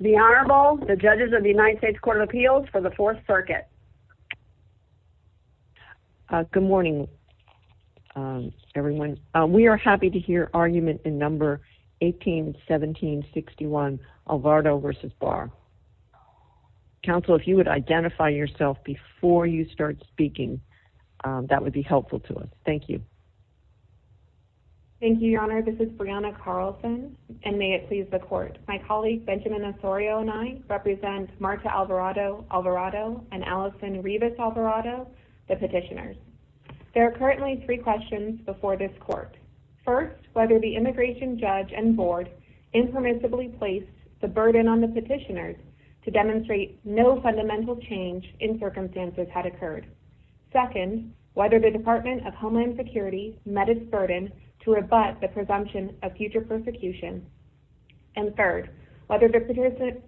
The Honorable, the Judges of the United States Court of Appeals for the 4th Circuit. Good morning everyone. We are happy to hear argument in number 181761 Alvarado v. Barr. Counsel, if you would identify yourself before you start speaking, that would be helpful to us. Thank you. Thank you, Your Honor. This is Brianna Carlson, and may it please the Court. My colleague Benjamin Osorio and I represent Marta Alvarado Alvarado and Allison Revis Alvarado, the petitioners. There are currently three questions before this Court. First, whether the immigration judge and board impermissibly placed the burden on the petitioners to demonstrate no fundamental change in circumstances had occurred. Second, whether the Department of Homeland Security met its burden to rebut the presumption of future persecution. And third, whether the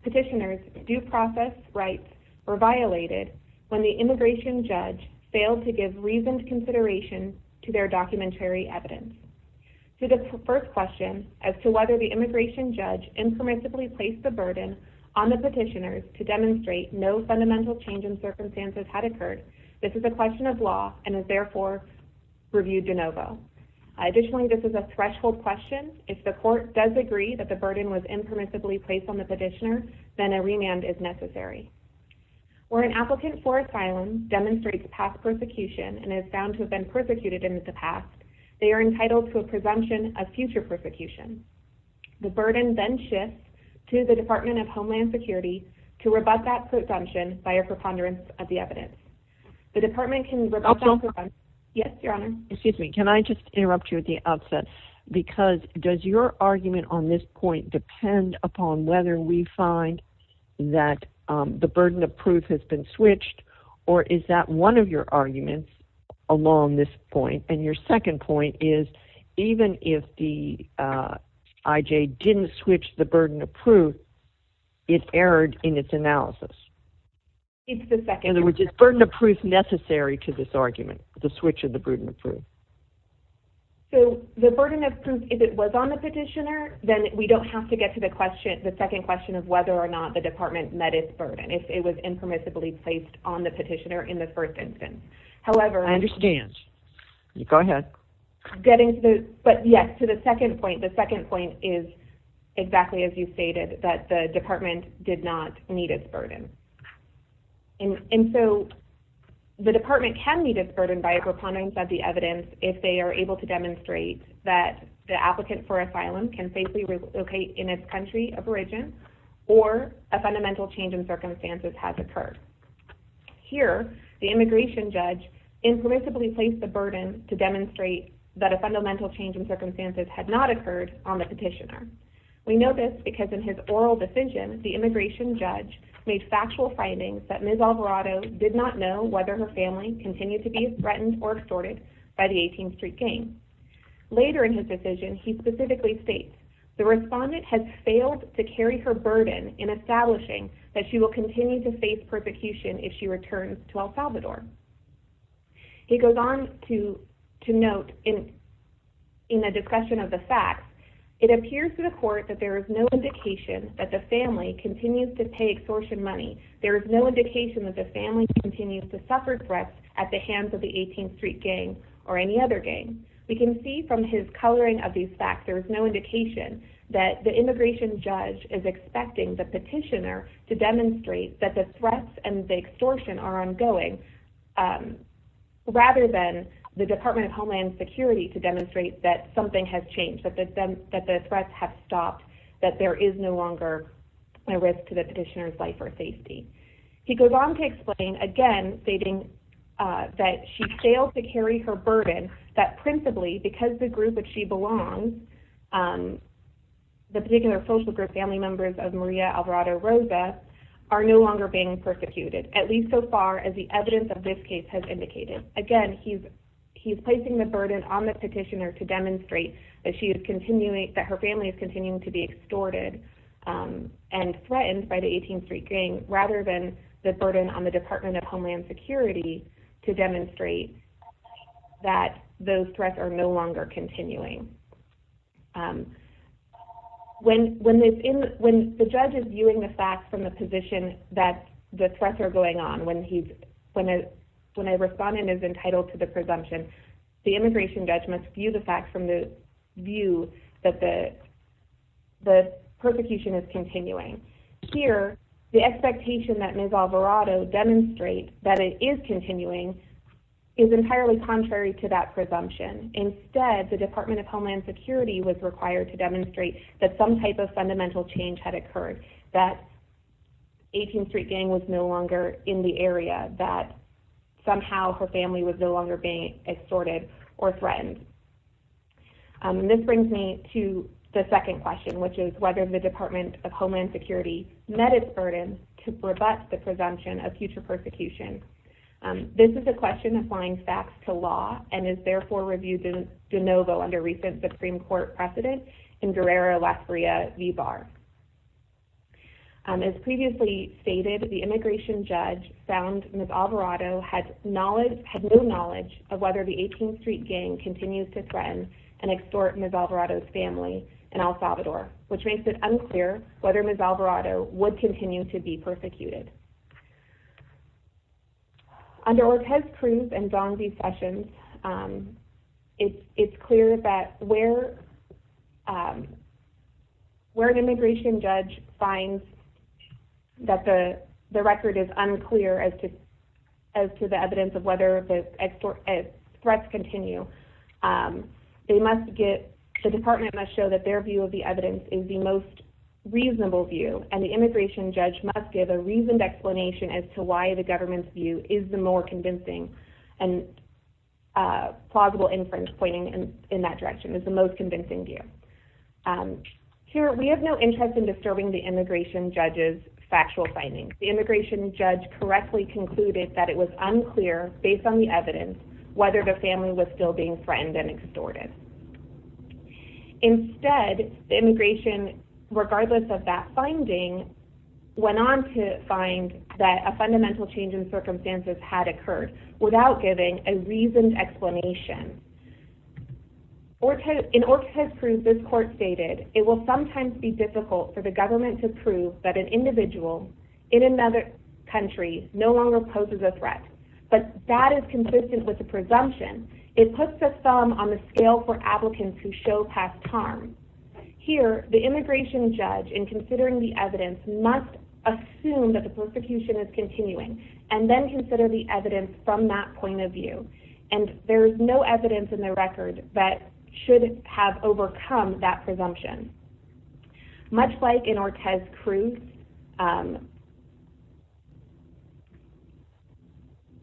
petitioners due process rights were violated when the immigration judge failed to give reasoned consideration to their documentary evidence. To the first question, as to whether the immigration judge impermissibly placed the burden on the petitioners to demonstrate no fundamental change in circumstances had occurred, this is a question of law and is therefore reviewed de novo. Additionally, this is a threshold question. If the Court does agree that the burden was impermissibly placed on the petitioner, then a remand is necessary. Where an applicant for asylum demonstrates past persecution and is found to have been persecuted in the past, they are entitled to a presumption of future persecution. The burden then shifts to the Department of Homeland Security to rebut that presumption by a preponderance of the evidence. Excuse me, can I just interrupt you at the outset? Because does your argument on this point depend upon whether we find that the burden of proof has been switched? Or is that one of your arguments along this point? And your second point is even if the IJ didn't switch the burden of proof, it erred in its analysis. In other words, is burden of proof necessary to this argument? The switch of the burden of proof? So the burden of proof, if it was on the petitioner, then we don't have to get to the second question of whether or not the Department met its burden. If it was impermissibly placed on the petitioner in the first instance. I understand. Go ahead. But yes, to the second point, the second point is exactly as you stated, that the department did not meet its burden. And so the department can meet its burden by a preponderance of the evidence if they are able to demonstrate that the applicant for asylum can safely relocate in its country of origin or a fundamental change in circumstances has occurred. Here, the immigration judge impermissibly placed the burden to demonstrate that a fundamental change in circumstances had not occurred on the petitioner. We know this because in his oral decision, the immigration judge made factual findings that Ms. Alvarado did not know whether her family continued to be threatened or extorted by the 18th Street Gang. Later in his decision, he specifically states, the respondent has failed to carry her burden in establishing that she will continue to face persecution if she returns to El Salvador. He goes on to note in the discussion of the facts, it appears to the court that there is no indication that the family continues to pay extortion money. There is no indication that the family continues to suffer threats at the hands of the 18th Street Gang or any other gang. We can see from his coloring of these facts, there is no indication that the immigration judge is expecting the petitioner to demonstrate that the threats and the extortion are ongoing, rather than the Department of Homeland Security to demonstrate that something has changed, that the threats have stopped, that there is no longer a risk to the petitioner's life or safety. He goes on to explain, again, stating that she failed to carry her burden, that principally because the group that she belongs, the particular social group family members of Maria Alvarado Rosa, are no longer being persecuted, at least so far as the evidence of this case has indicated. Again, he's placing the burden on the petitioner to demonstrate that her family is continuing to be extorted and threatened by the 18th Street Gang, rather than the burden on the Department of Homeland Security to demonstrate that those threats are no longer continuing. When the judge is viewing the facts from the position that the threats are going on, when a respondent is entitled to the presumption, the immigration judge must view the facts from the view that the persecution is continuing. Here, the expectation that Ms. Alvarado demonstrates that it is continuing is entirely contrary to that presumption. Instead, the Department of Homeland Security was required to demonstrate that some type of fundamental change had occurred, that 18th Street Gang was no longer in the area, that somehow her family was no longer being extorted or threatened. This brings me to the second question, which is whether the Department of Homeland Security met its burden to rebut the presumption of future persecution. This is a question applying facts to law, and is therefore reviewed de novo under recent Supreme Court precedent in Guerrero-Las Rias v. Barr. As previously stated, the immigration judge found Ms. Alvarado had no knowledge of whether the 18th Street Gang continues to threaten and extort Ms. Alvarado's family in El Salvador, which makes it unclear whether Ms. Alvarado would continue to be persecuted. Under Ortez-Cruz and Dong-V sessions, it's clear that where an immigration judge finds that the record is unclear as to the evidence of whether the threats continue, the Department must show that their view of the evidence is the most reasonable view, and the immigration judge must give a reasoned explanation as to why the government's view is the more convincing, and plausible inference pointing in that direction is the most convincing view. Here, we have no interest in disturbing the immigration judge's factual findings. The immigration judge correctly concluded that it was unclear, based on the evidence, whether the family was still being threatened and extorted. Instead, the immigration, regardless of that finding, went on to find that a fundamental change in circumstances had occurred, without giving a reasoned explanation. In Ortez-Cruz, this court stated, It will sometimes be difficult for the government to prove that an individual in another country no longer poses a threat, but that is consistent with the presumption. It puts the thumb on the scale for applicants who show past harm. Here, the immigration judge, in considering the evidence, must assume that the persecution is continuing, and then consider the evidence from that point of view. There is no evidence in the record that should have overcome that presumption. Much like in Ortez-Cruz,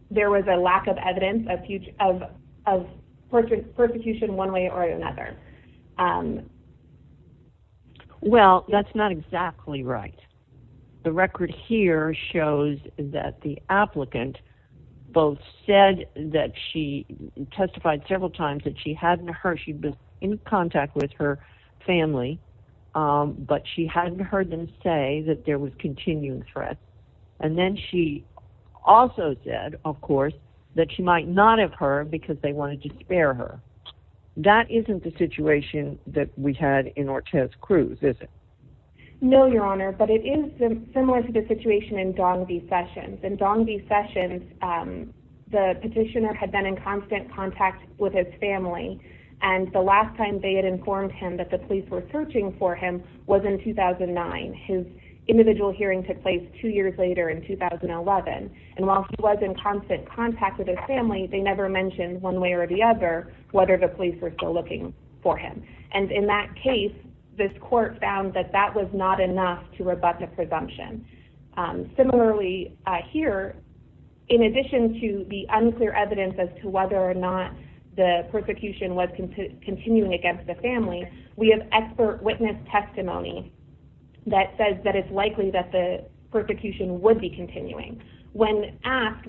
there was a lack of evidence of persecution one way or another. Well, that's not exactly right. The record here shows that the applicant both said that she testified several times that she had been in contact with her family, but she hadn't heard them say that there was continuing threat. And then she also said, of course, that she might not have heard because they wanted to spare her. That isn't the situation that we had in Ortez-Cruz, is it? No, Your Honor, but it is similar to the situation in Dong V. Sessions. In Dong V. Sessions, the petitioner had been in constant contact with his family, and the last time they had informed him that the police were searching for him was in 2009. His individual hearing took place two years later in 2011. And while he was in constant contact with his family, they never mentioned one way or the other whether the police were still looking for him. And in that case, this court found that that was not enough to rebut the presumption. Similarly, here, in addition to the unclear evidence as to whether or not the persecution was continuing against the family, we have expert witness testimony that says that it's likely that the persecution would be continuing. When asked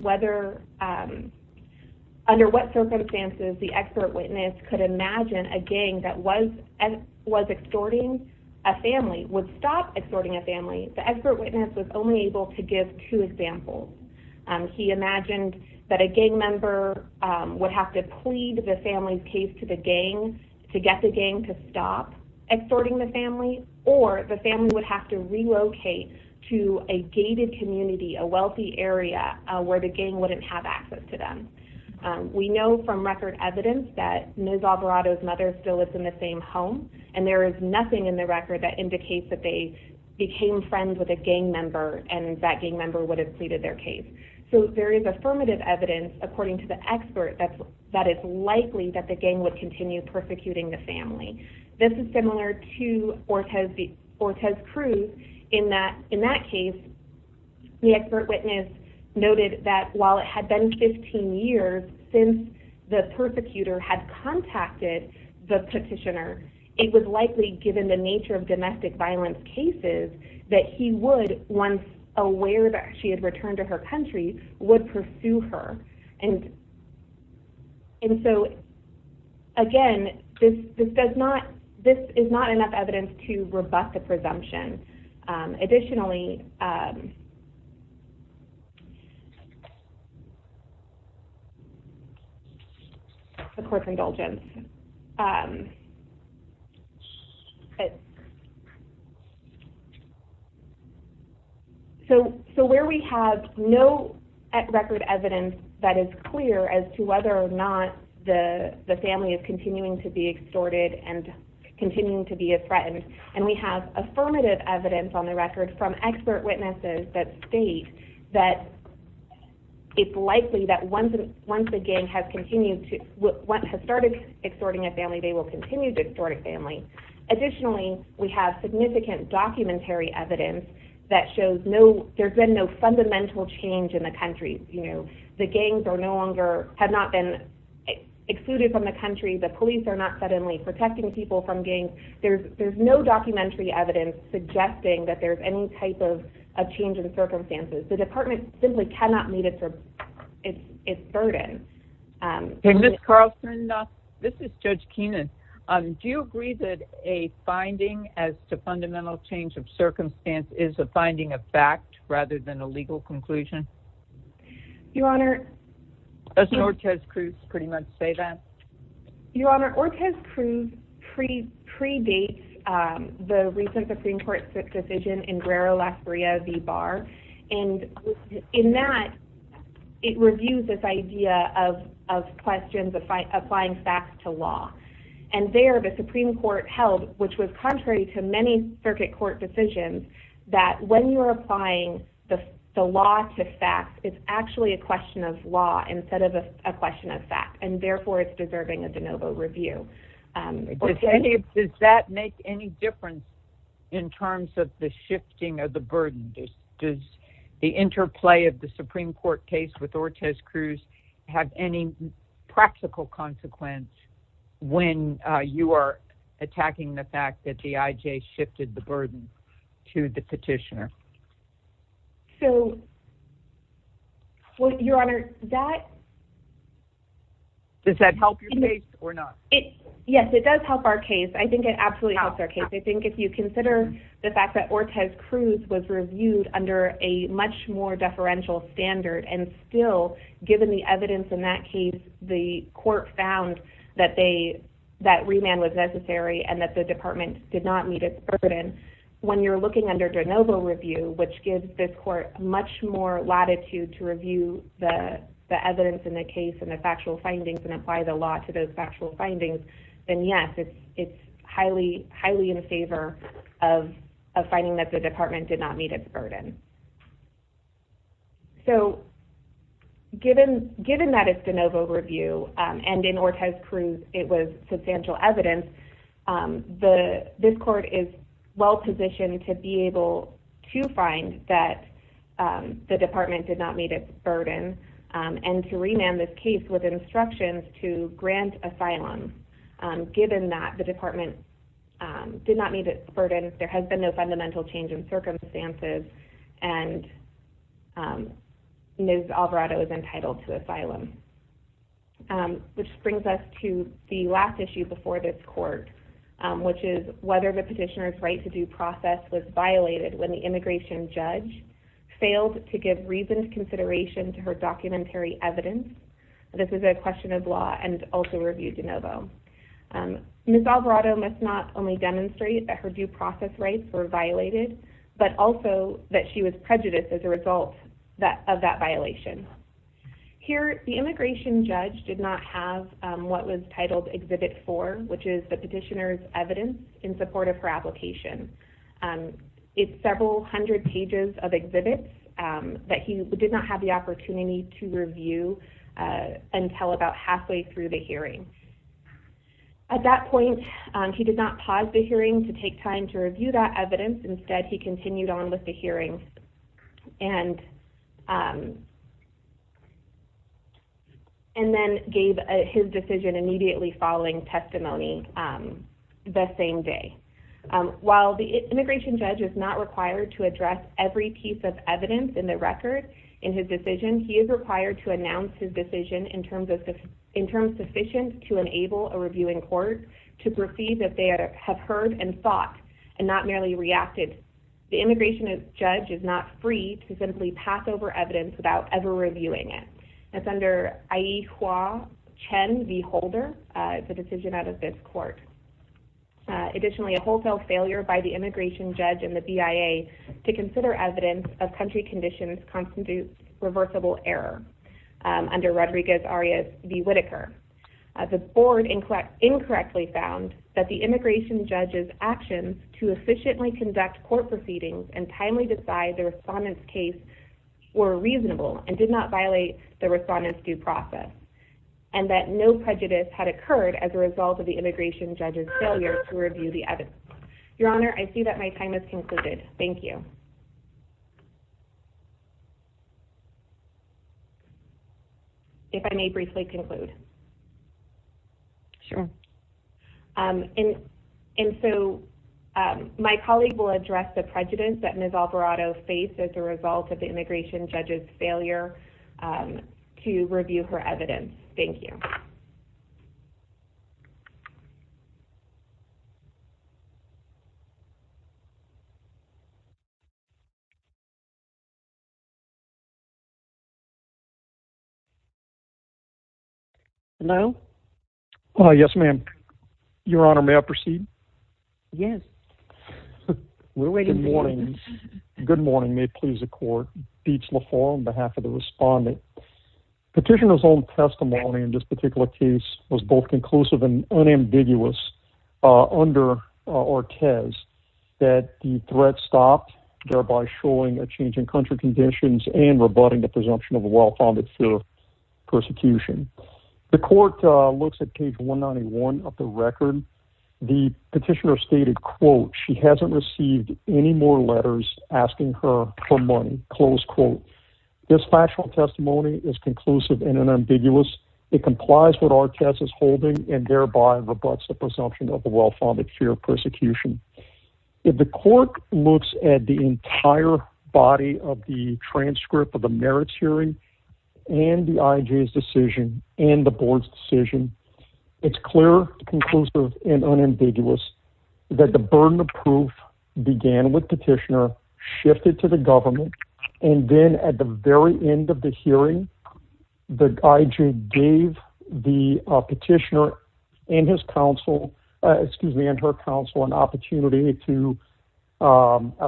under what circumstances the expert witness could imagine a gang that was extorting a family would stop extorting a family, the expert witness was only able to give two examples. He imagined that a gang member would have to plead the family's case to the gang to get the gang to stop extorting the family, or the family would have to relocate to a gated community, a wealthy area, where the gang wouldn't have access to them. We know from record evidence that Ms. Alvarado's mother still lives in the same home, and there is nothing in the record that indicates that they became friends with a gang member and that gang member would have pleaded their case. So there is affirmative evidence, according to the expert, that it's likely that the gang would continue persecuting the family. This is similar to Ortez Cruz in that case, the expert witness noted that while it had been 15 years since the persecutor had contacted the petitioner, it was likely given the nature of domestic violence cases that he would, once aware that she had returned to her country, would pursue her. And so, again, this is not enough evidence to rebut the presumption. Additionally, the court's indulgence. So where we have no record evidence that is clear as to whether or not the family is continuing to be extorted and continuing to be threatened, and we have affirmative evidence on the record from expert witnesses that state that it's likely that once the gang has started extorting a family, they will continue to extort a family. Additionally, we have significant documentary evidence that shows there's been no fundamental change in the country. The gangs are no longer, have not been excluded from the country. The police are not suddenly protecting people from gangs. There's no documentary evidence suggesting that there's any type of change in circumstances. The department simply cannot meet its burden. Ms. Carlson, this is Judge Keenan. Do you agree that a finding as to fundamental change of circumstance is a finding of fact rather than a legal conclusion? Your Honor. Doesn't Ortiz-Cruz pretty much say that? Your Honor, Ortiz-Cruz pre-dates the recent Supreme Court decision in Guerrero, Las Breas, v. Barr. And in that, it reviews this idea of questions applying facts to law. And there, the Supreme Court held, which was contrary to many circuit court decisions, that when you're applying the law to facts, it's actually a question of law instead of a question of fact. And therefore, it's deserving of de novo review. Does that make any difference in terms of the shifting of the burden? Does the interplay of the Supreme Court case with Ortiz-Cruz have any practical consequence when you are attacking the fact that the IJ shifted the burden to the petitioner? So, Your Honor, that… Does that help your case or not? Yes, it does help our case. I think it absolutely helps our case. I think if you consider the fact that Ortiz-Cruz was reviewed under a much more deferential standard and still, given the evidence in that case, the court found that remand was necessary and that the department did not meet its burden. When you're looking under de novo review, which gives this court much more latitude to review the evidence in the case and the factual findings and apply the law to those factual findings, then yes, it's highly in favor of finding that the department did not meet its burden. So, given that it's de novo review and in Ortiz-Cruz it was substantial evidence, this court is well-positioned to be able to find that the department did not meet its burden and to remand this case with instructions to grant asylum. Given that the department did not meet its burden, there has been no fundamental change in circumstances, and Ms. Alvarado is entitled to asylum. This brings us to the last issue before this court, which is whether the petitioner's right to due process was violated when the immigration judge failed to give reasoned consideration to her documentary evidence. This is a question of law and also review de novo. Ms. Alvarado must not only demonstrate that her due process rights were violated, but also that she was prejudiced as a result of that violation. Here, the immigration judge did not have what was titled Exhibit 4, which is the petitioner's evidence in support of her application. It's several hundred pages of exhibits that he did not have the opportunity to review until about halfway through the hearing. At that point, he did not pause the hearing to take time to review that evidence. Instead, he continued on with the hearing and then gave his decision immediately following testimony the same day. While the immigration judge is not required to address every piece of evidence in the record in his decision, he is required to announce his decision in terms sufficient to enable a reviewing court to proceed if they have heard and thought and not merely reacted. The immigration judge is not free to simply pass over evidence without ever reviewing it. That's under IEHWA Chen v. Holder. It's a decision out of this court. Additionally, a wholesale failure by the immigration judge and the BIA to consider evidence of country conditions constitutes reversible error under Rodriguez-Arias v. Whitaker. The board incorrectly found that the immigration judge's actions to efficiently conduct court proceedings and timely decide the respondent's case were reasonable and did not violate the respondent's due process and that no prejudice had occurred as a result of the immigration judge's failure to review the evidence. Your Honor, I see that my time has concluded. Thank you. If I may briefly conclude. Sure. And so my colleague will address the prejudice that Ms. Alvarado faced as a result of the immigration judge's failure to review her evidence. Thank you. No. Yes, ma'am. Your Honor, may I proceed? Yes. We're waiting. Good morning. Good morning. May it please the court. Beats LaFleur on behalf of the respondent. Petitioner's own testimony in this particular case was both conclusive and unambiguous under Ortez that the threat stopped, thereby showing a change in country conditions and rebutting the presumption of a well-founded fear of persecution. The court looks at page 191 of the record. The petitioner stated, quote, she hasn't received any more letters asking her for money. Close quote. This factual testimony is conclusive and unambiguous. It complies with Ortez's holding and thereby rebuts the presumption of the well-founded fear of persecution. If the court looks at the entire body of the transcript of the merits hearing and the IJ's decision and the board's decision, it's clear, conclusive and unambiguous that the burden of proof began with petitioner shifted to the government. And then at the very end of the hearing, the IJ gave the petitioner and his counsel, excuse me, and her counsel an opportunity to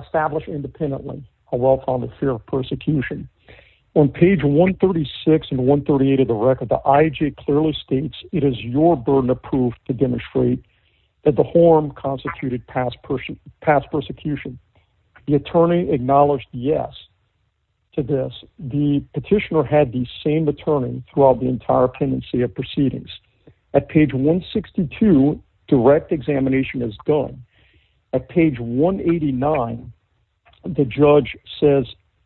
establish independently a well-founded fear of persecution. On page 136 and 138 of the record, the IJ clearly states it is your burden of proof to demonstrate that the harm constituted past persecution. The attorney acknowledged yes to this. The petitioner had the same attorney throughout the entire pendency of proceedings. At page 162, direct examination is done. At page 189, the judge says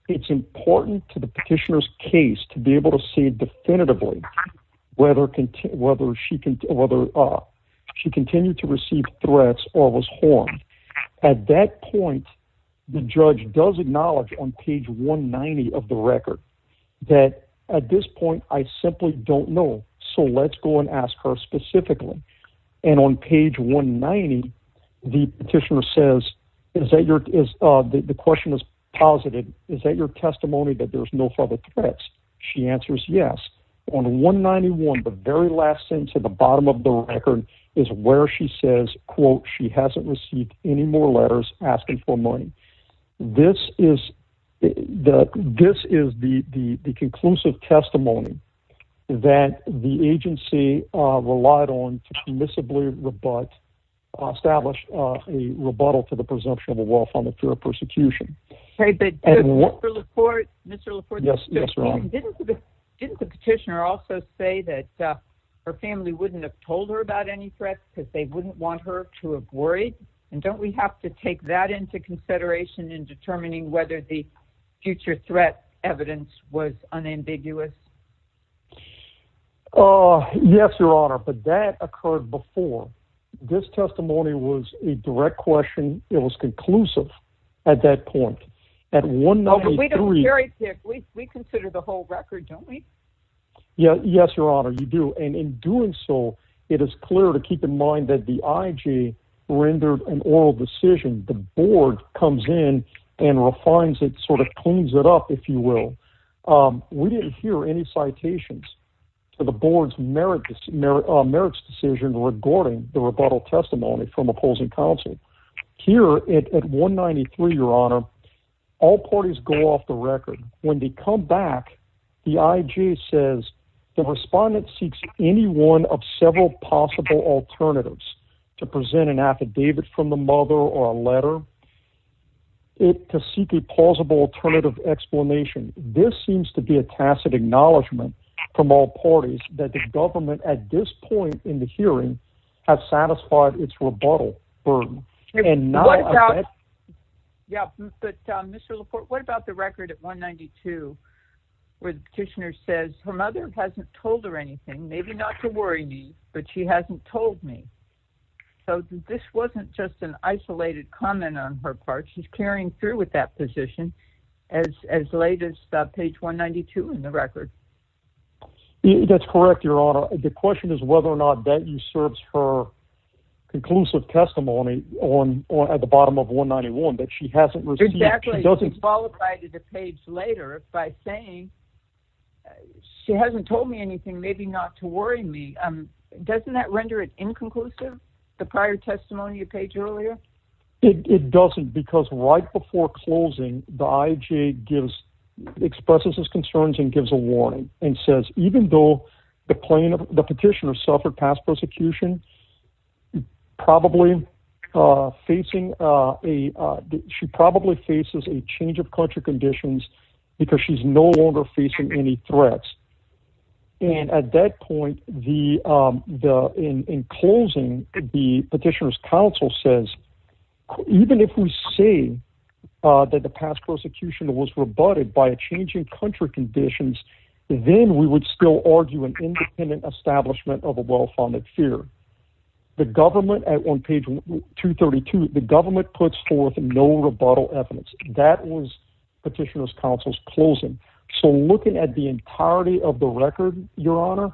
it's important to the petitioner's case to be able to see definitively whether she continued to receive threats or was harmed. At that point, the judge does acknowledge on page 190 of the record that at this point, I simply don't know. So let's go and ask her specifically. And on page 190, the petitioner says, is that your is the question is positive. Is that your testimony that there's no further threats? She answers yes. On 191, the very last thing to the bottom of the record is where she says, quote, she hasn't received any more letters asking for money. This is the this is the conclusive testimony that the agency relied on to permissibly rebut, establish a rebuttal to the presumption of a well-founded fear of persecution. Mr. LaPorte, didn't the petitioner also say that her family wouldn't have told her about any threats because they wouldn't want her to have worried? And don't we have to take that into consideration in determining whether the future threat evidence was unambiguous? Oh, yes, Your Honor. But that occurred before this testimony was a direct question. It was conclusive at that point at one. We consider the whole record, don't we? Yes, Your Honor, you do. And in doing so, it is clear to keep in mind that the IG rendered an oral decision. The board comes in and refines it, sort of cleans it up, if you will. We didn't hear any citations to the board's merits decision regarding the rebuttal testimony from opposing counsel here at one ninety three, Your Honor. All parties go off the record when they come back. The IG says the respondent seeks any one of several possible alternatives to present an affidavit from the mother or a letter to seek a plausible alternative explanation. This seems to be a tacit acknowledgment from all parties that the government at this point in the hearing have satisfied its rebuttal burden. Yeah, but Mr. LaPorte, what about the record at one ninety two where the petitioner says her mother hasn't told her anything? Maybe not to worry me, but she hasn't told me. So this wasn't just an isolated comment on her part. She's carrying through with that position as as late as page one ninety two in the record. That's correct, Your Honor. The question is whether or not that usurps her conclusive testimony on at the bottom of one ninety one that she hasn't received. She doesn't qualify to the page later by saying she hasn't told me anything. Maybe not to worry me. Doesn't that render it inconclusive? The prior testimony page earlier? It doesn't, because right before closing, the IG gives expresses his concerns and gives a warning and says, even though the plaintiff, the petitioner suffered past prosecution, probably facing a she probably faces a change of country conditions because she's no longer facing any threats. And at that point, the in closing, the petitioner's counsel says, even if we see that the past prosecution was rebutted by changing country conditions, then we would still argue an independent establishment of a well-funded fear. The government at one page two thirty two, the government puts forth no rebuttal evidence. That was petitioner's counsel's closing. So looking at the entirety of the record, Your Honor,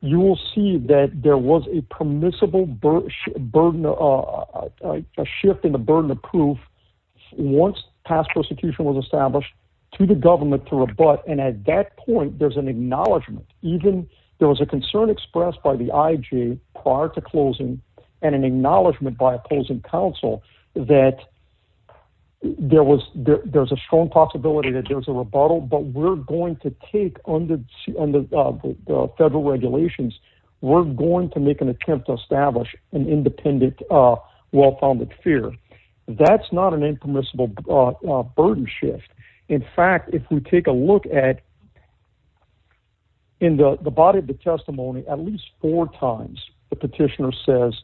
you will see that there was a permissible burden, a shift in the burden of proof. Once past prosecution was established to the government to rebut. And at that point, there's an acknowledgement. Even there was a concern expressed by the IG prior to closing and an acknowledgement by opposing counsel that there was there's a strong possibility that there's a rebuttal. But we're going to take on the federal regulations. We're going to make an attempt to establish an independent, well-founded fear. That's not an impermissible burden shift. In fact, if we take a look at. In the body of the testimony, at least four times, the petitioner says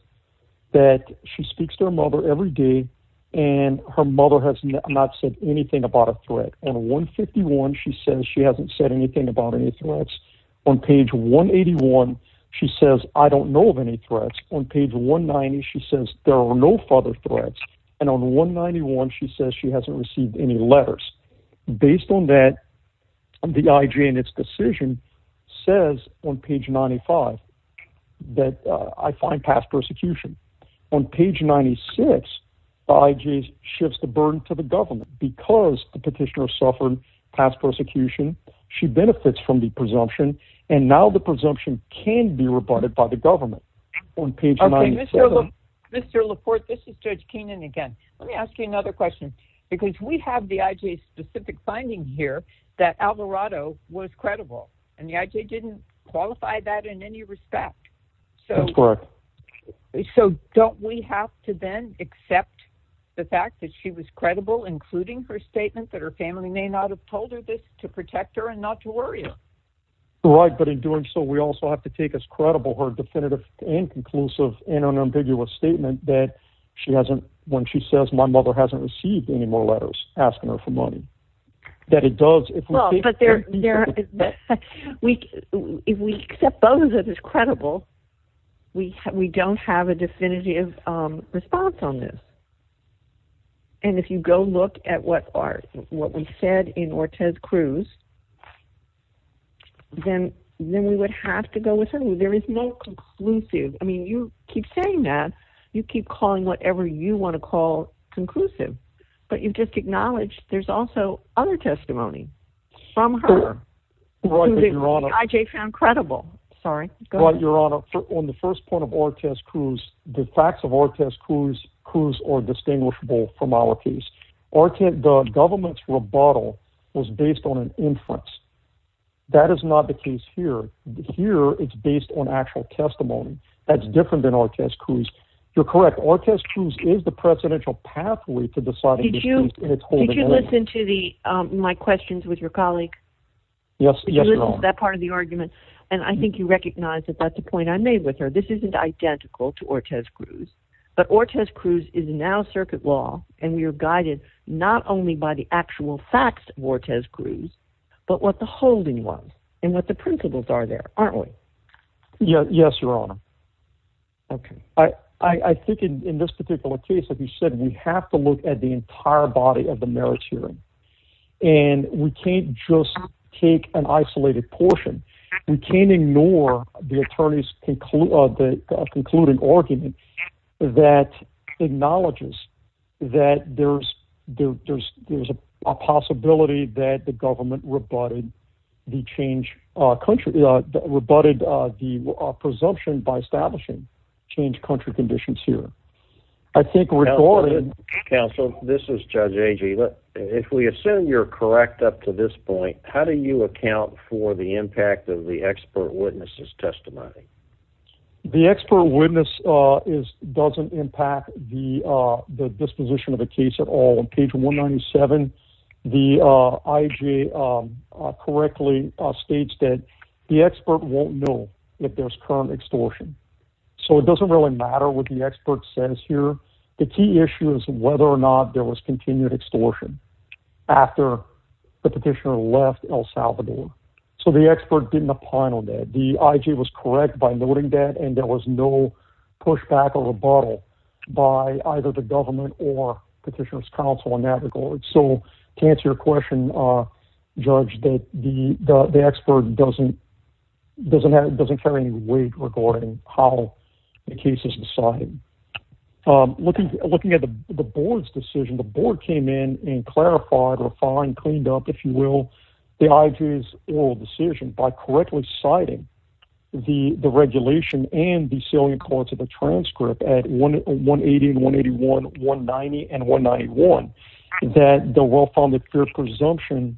that she speaks to her mother every day and her mother has not said anything about a threat. And one fifty one, she says she hasn't said anything about any threats on page one eighty one. She says, I don't know of any threats on page one ninety. She says there are no further threats. And on one ninety one, she says she hasn't received any letters. Based on that, the IG and its decision says on page ninety five that I find past persecution on page ninety six. I just shifts the burden to the government because the petitioner suffered past persecution. She benefits from the presumption and now the presumption can be rebutted by the government on page. Mr. Laporte, this is Judge Keenan again. Let me ask you another question, because we have the IG specific finding here that Alvarado was credible and the IG didn't qualify that in any respect. So don't we have to then accept the fact that she was credible, including her statement that her family may not have told her this to protect her and not to worry. Right. But in doing so, we also have to take as credible her definitive and conclusive and unambiguous statement that she hasn't. When she says my mother hasn't received any more letters asking her for money, that it does. Well, but there is that we if we accept both of this credible, we we don't have a definitive response on this. And if you go look at what are what we said in Ortez Cruz, then then we would have to go with her. There is no conclusive. I mean, you keep saying that you keep calling whatever you want to call conclusive, but you just acknowledge there's also other testimony. From her. I found credible. Sorry. Your Honor, on the first point of Ortez Cruz, the facts of Ortez Cruz Cruz or distinguishable from our case or the government's rebuttal was based on an inference. That is not the case here. Here it's based on actual testimony that's different than Ortez Cruz. You're correct. Ortez Cruz is the presidential pathway to decide. Did you did you listen to the my questions with your colleague? Yes. That part of the argument. And I think you recognize that that's the point I made with her. This isn't identical to Ortez Cruz, but Ortez Cruz is now circuit law. And we are guided not only by the actual facts of Ortez Cruz, but what the holding was and what the principles are there, aren't we? Yes, Your Honor. OK, I think in this particular case, as you said, we have to look at the entire body of the merits hearing and we can't just take an isolated portion. We can't ignore the attorney's concluding argument that acknowledges that there's there's there's a possibility that the government rebutted the change country, rebutted the presumption by establishing change country conditions here. Counsel, this is Judge Agee. If we assume you're correct up to this point, how do you account for the impact of the expert witnesses testimony? The expert witness is doesn't impact the disposition of the case at all. The I.J. correctly states that the expert won't know if there's current extortion. So it doesn't really matter what the expert says here. The key issue is whether or not there was continued extortion after the petitioner left El Salvador. So the expert didn't opine on that. The I.J. was correct by noting that and there was no pushback or rebuttal by either the government or petitioner's counsel in that regard. So to answer your question, Judge, that the expert doesn't doesn't doesn't carry any weight regarding how the case is decided. Looking looking at the board's decision, the board came in and clarified refined, cleaned up, if you will, the I.J.'s decision by correctly citing the regulation and the salient courts of a transcript at one one eighty one eighty one one ninety and one ninety one. The I.J. was correct by noting that the well-founded presumption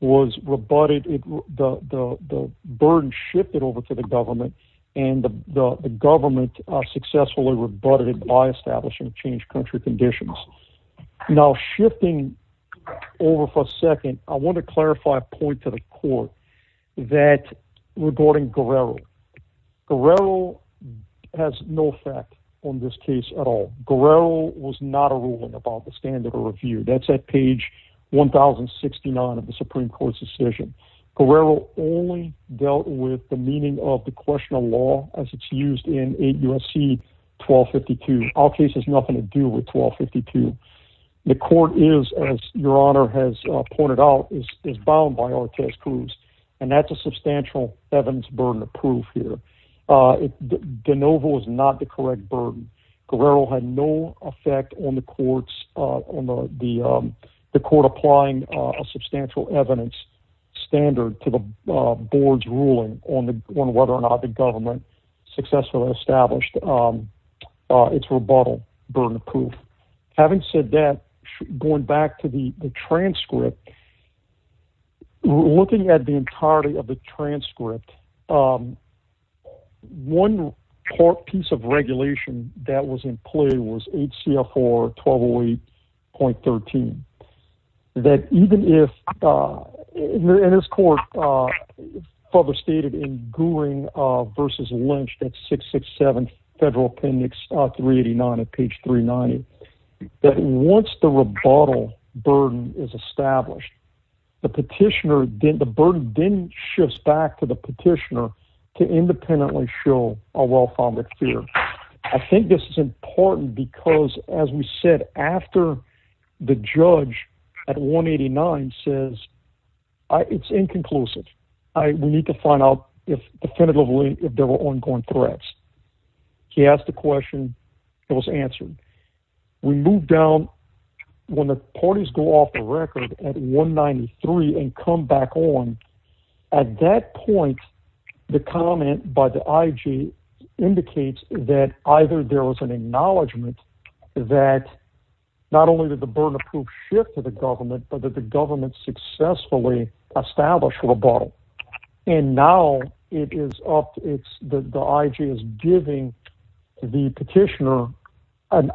was rebutted. The burden shifted over to the government and the government successfully rebutted by establishing changed country conditions. Now, shifting over for a second, I want to clarify a point to the court that regarding Guerrero, Guerrero has no effect on this case at all. Guerrero was not a ruling about the standard of review. That's at page one thousand sixty nine of the Supreme Court's decision. Guerrero only dealt with the meaning of the question of law as it's used in eight U.S.C. twelve fifty two. Our case has nothing to do with twelve fifty two. The court is, as your honor has pointed out, is is bound by our test clues. And that's a substantial evidence burden of proof here. De novo is not the correct burden. Guerrero had no effect on the courts, on the court applying a substantial evidence standard to the board's ruling on whether or not the government successfully established its rebuttal burden of proof. Having said that, going back to the transcript, looking at the entirety of the transcript, one piece of regulation that was in play was H.C. seven federal appendix three eighty nine at page three ninety. But once the rebuttal burden is established, the petitioner did the burden didn't shift back to the petitioner to independently show a well founded fear. I think this is important because, as we said after the judge at one eighty nine says it's inconclusive. We need to find out if definitively if there were ongoing threats. He asked the question. It was answered. We moved down when the parties go off the record at one ninety three and come back on. At that point, the comment by the I.G. indicates that either there was an acknowledgment that not only did the burden of proof shift to the government, but that the government successfully established rebuttal. And now it is up. It's the I.G. is giving the petitioner an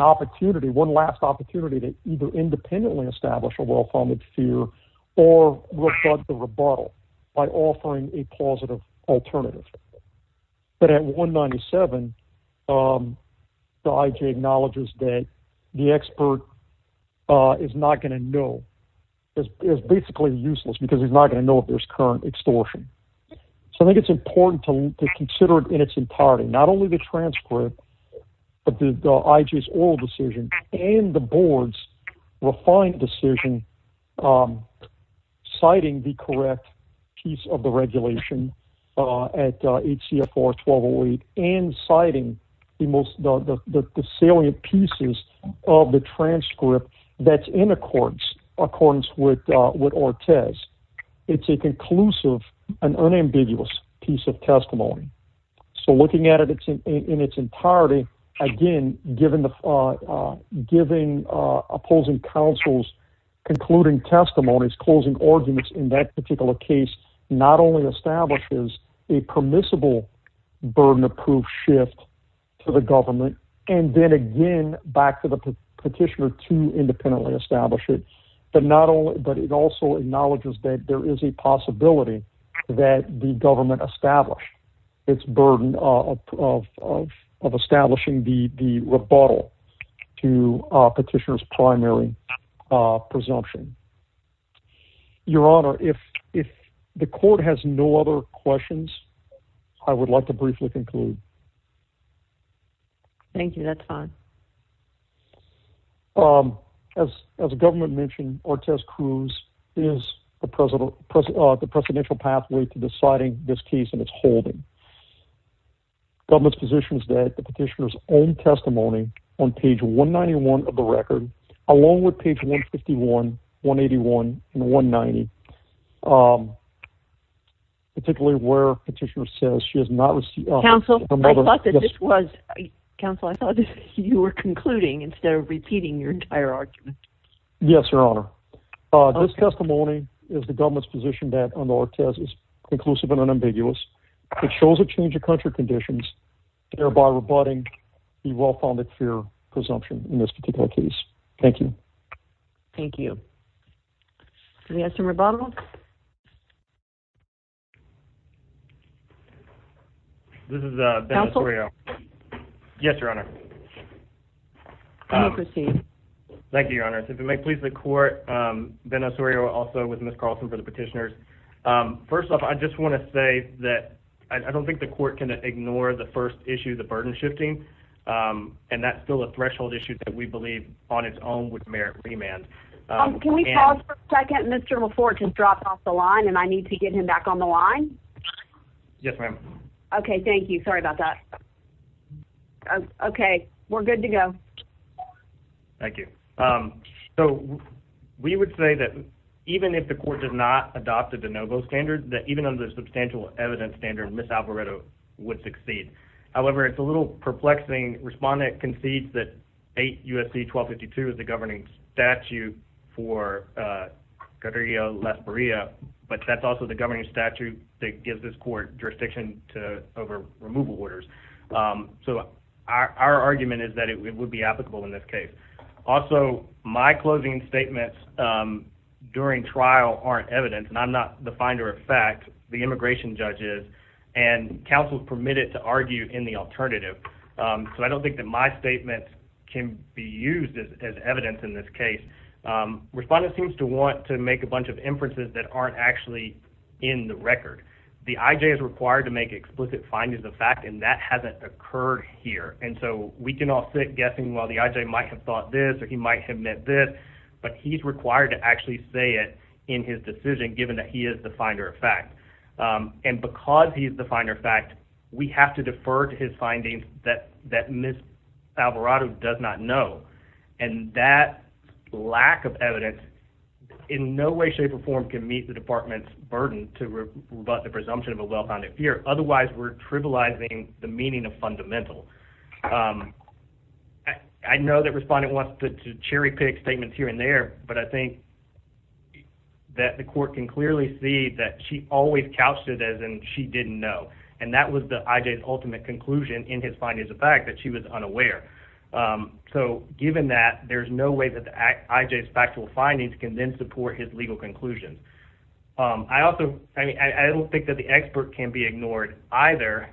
opportunity, one last opportunity to either independently establish a well founded fear or the rebuttal by offering a positive alternative. But at one ninety seven, the I.G. acknowledges that the expert is not going to know is basically useless because he's not going to know if there's current extortion. So I think it's important to consider it in its entirety, not only the transcript of the I.G.'s oral decision and the board's refined decision, citing the correct piece of the regulation at H.C. and citing the most salient pieces of the transcript that's in accordance, according to what Ortez. It's a conclusive and unambiguous piece of testimony. So looking at it in its entirety, again, given the giving opposing counsel's concluding testimonies, closing arguments in that particular case, not only establishes a permissible burden of proof shift to the government and then again back to the petitioner to independently establish it. But not only but it also acknowledges that there is a possibility that the government established its burden of establishing the rebuttal to petitioners primary presumption. Your Honor, if if the court has no other questions, I would like to briefly conclude. Thank you. That's fine. As the government mentioned, Ortez Cruz is the president of the presidential pathway to deciding this case and it's holding. Government's position is that the petitioner's own testimony on page 191 of the record, along with page 151, 181 and 190. Particularly where petitioner says she has not received counsel. I thought that this was counsel. I thought you were concluding instead of repeating your entire argument. Yes, Your Honor. This testimony is the government's position that on our test is inclusive and unambiguous. It shows a change of country conditions, thereby rebutting the well-founded fear presumption in this particular case. Thank you. Thank you. We have some rebuttal. This is a. Yes, Your Honor. Thank you, Your Honor. Yes, if it may please the court. Venezuela also with Miss Carlson for the petitioners. First off, I just want to say that I don't think the court can ignore the first issue, the burden shifting. And that's still a threshold issue that we believe on its own would merit remand. Can we pause for a second? Mr. before to drop off the line and I need to get him back on the line. Yes, ma'am. OK, thank you. Sorry about that. OK, we're good to go. Thank you. So we would say that even if the court does not adopted the Novo standard, that even under substantial evidence standard, Miss Alvaredo would succeed. However, it's a little perplexing. Respondent concedes that eight USC 1252 is the governing statute for career less Maria. But that's also the governing statute that gives this court jurisdiction to over removal orders. So our argument is that it would be applicable in this case. Also, my closing statements during trial aren't evidence. And I'm not the finder of fact. The immigration judges and counsel permitted to argue in the alternative. So I don't think that my statement can be used as evidence in this case. Respondent seems to want to make a bunch of inferences that aren't actually in the record. The IJ is required to make explicit findings of fact. And that hasn't occurred here. And so we can all sit guessing while the IJ might have thought this or he might have met this. But he's required to actually say it in his decision, given that he is the finder of fact. And because he is the finder of fact, we have to defer to his findings that that Miss Alvarado does not know. And that lack of evidence in no way, shape or form can meet the department's burden to rebut the presumption of a well-founded fear. Otherwise, we're trivializing the meaning of fundamental. I know that Respondent wants to cherry pick statements here and there. But I think that the court can clearly see that she always couched it as in she didn't know. And that was the IJ's ultimate conclusion in his findings of fact, that she was unaware. So given that, there's no way that the IJ's factual findings can then support his legal conclusions. I also, I mean, I don't think that the expert can be ignored either.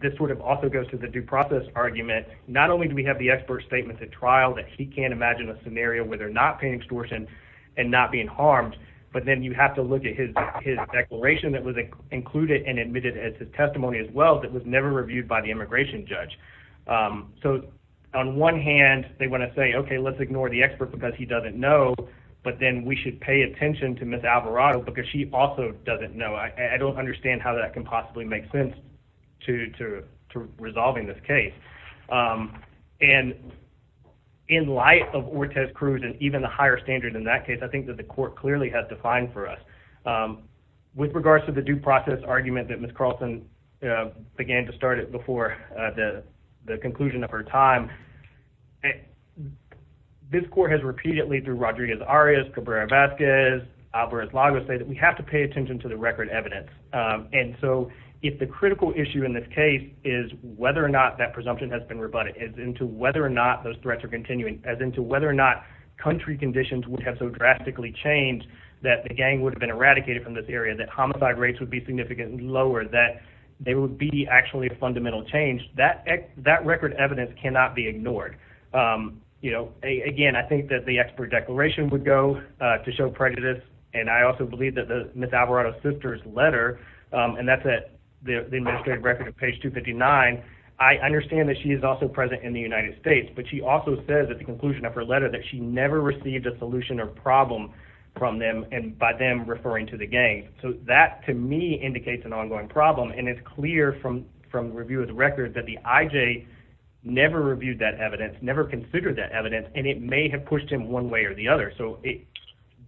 This sort of also goes to the due process argument. Not only do we have the expert statement at trial that he can't imagine a scenario where they're not paying extortion and not being harmed. But then you have to look at his declaration that was included and admitted as his testimony as well, that was never reviewed by the immigration judge. So on one hand, they want to say, okay, let's ignore the expert because he doesn't know. But then we should pay attention to Miss Alvarado because she also doesn't know. I don't understand how that can possibly make sense. To, to, to resolving this case. And in light of Ortiz-Cruz and even the higher standard in that case, I think that the court clearly has defined for us. With regards to the due process argument that Miss Carlson began to start it before the conclusion of her time. This court has repeatedly through Rodriguez-Arias, Cabrera-Vasquez, Alvarez-Lago say that we have to pay attention to the record evidence. And so if the critical issue in this case is whether or not that presumption has been rebutted, is into whether or not those threats are continuing, as into whether or not country conditions would have so drastically changed that the gang would have been eradicated from this area, that homicide rates would be significantly lower, that there would be actually a fundamental change. That, that record evidence cannot be ignored. You know, again, I think that the expert declaration would go to show prejudice. And I also believe that Miss Alvarado's sister's letter, and that's at the administrative record at page 259, I understand that she is also present in the United States. But she also says at the conclusion of her letter that she never received a solution or problem from them and by them referring to the gang. So that, to me, indicates an ongoing problem. And it's clear from, from review of the records that the IJ never reviewed that evidence, never considered that evidence, and it may have pushed him one way or the other. So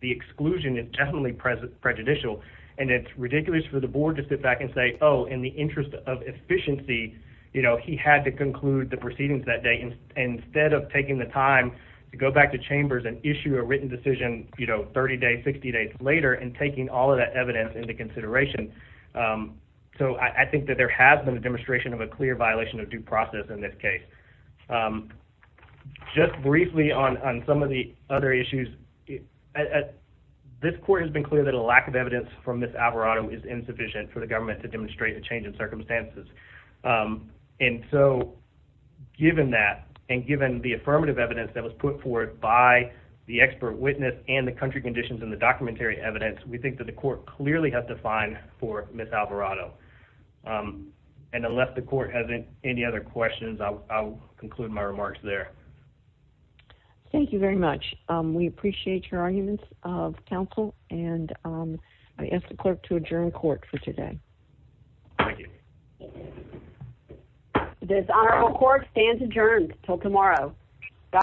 the exclusion is definitely prejudicial. And it's ridiculous for the board to sit back and say, oh, in the interest of efficiency, you know, he had to conclude the proceedings that day instead of taking the time to go back to chambers and issue a written decision, you know, 30 days, 60 days later and taking all of that evidence into consideration. So I think that there has been a demonstration of a clear violation of due process in this case. Just briefly on some of the other issues. This court has been clear that a lack of evidence from Ms. Alvarado is insufficient for the government to demonstrate a change in circumstances. And so given that, and given the affirmative evidence that was put forward by the expert witness and the country conditions and the documentary evidence, we think that the court clearly has to fine for Ms. Alvarado. And unless the court has any other questions, I'll conclude my remarks there. Thank you very much. We appreciate your arguments of counsel. And I ask the clerk to adjourn court for today. Thank you. This honorable court stands adjourned until tomorrow.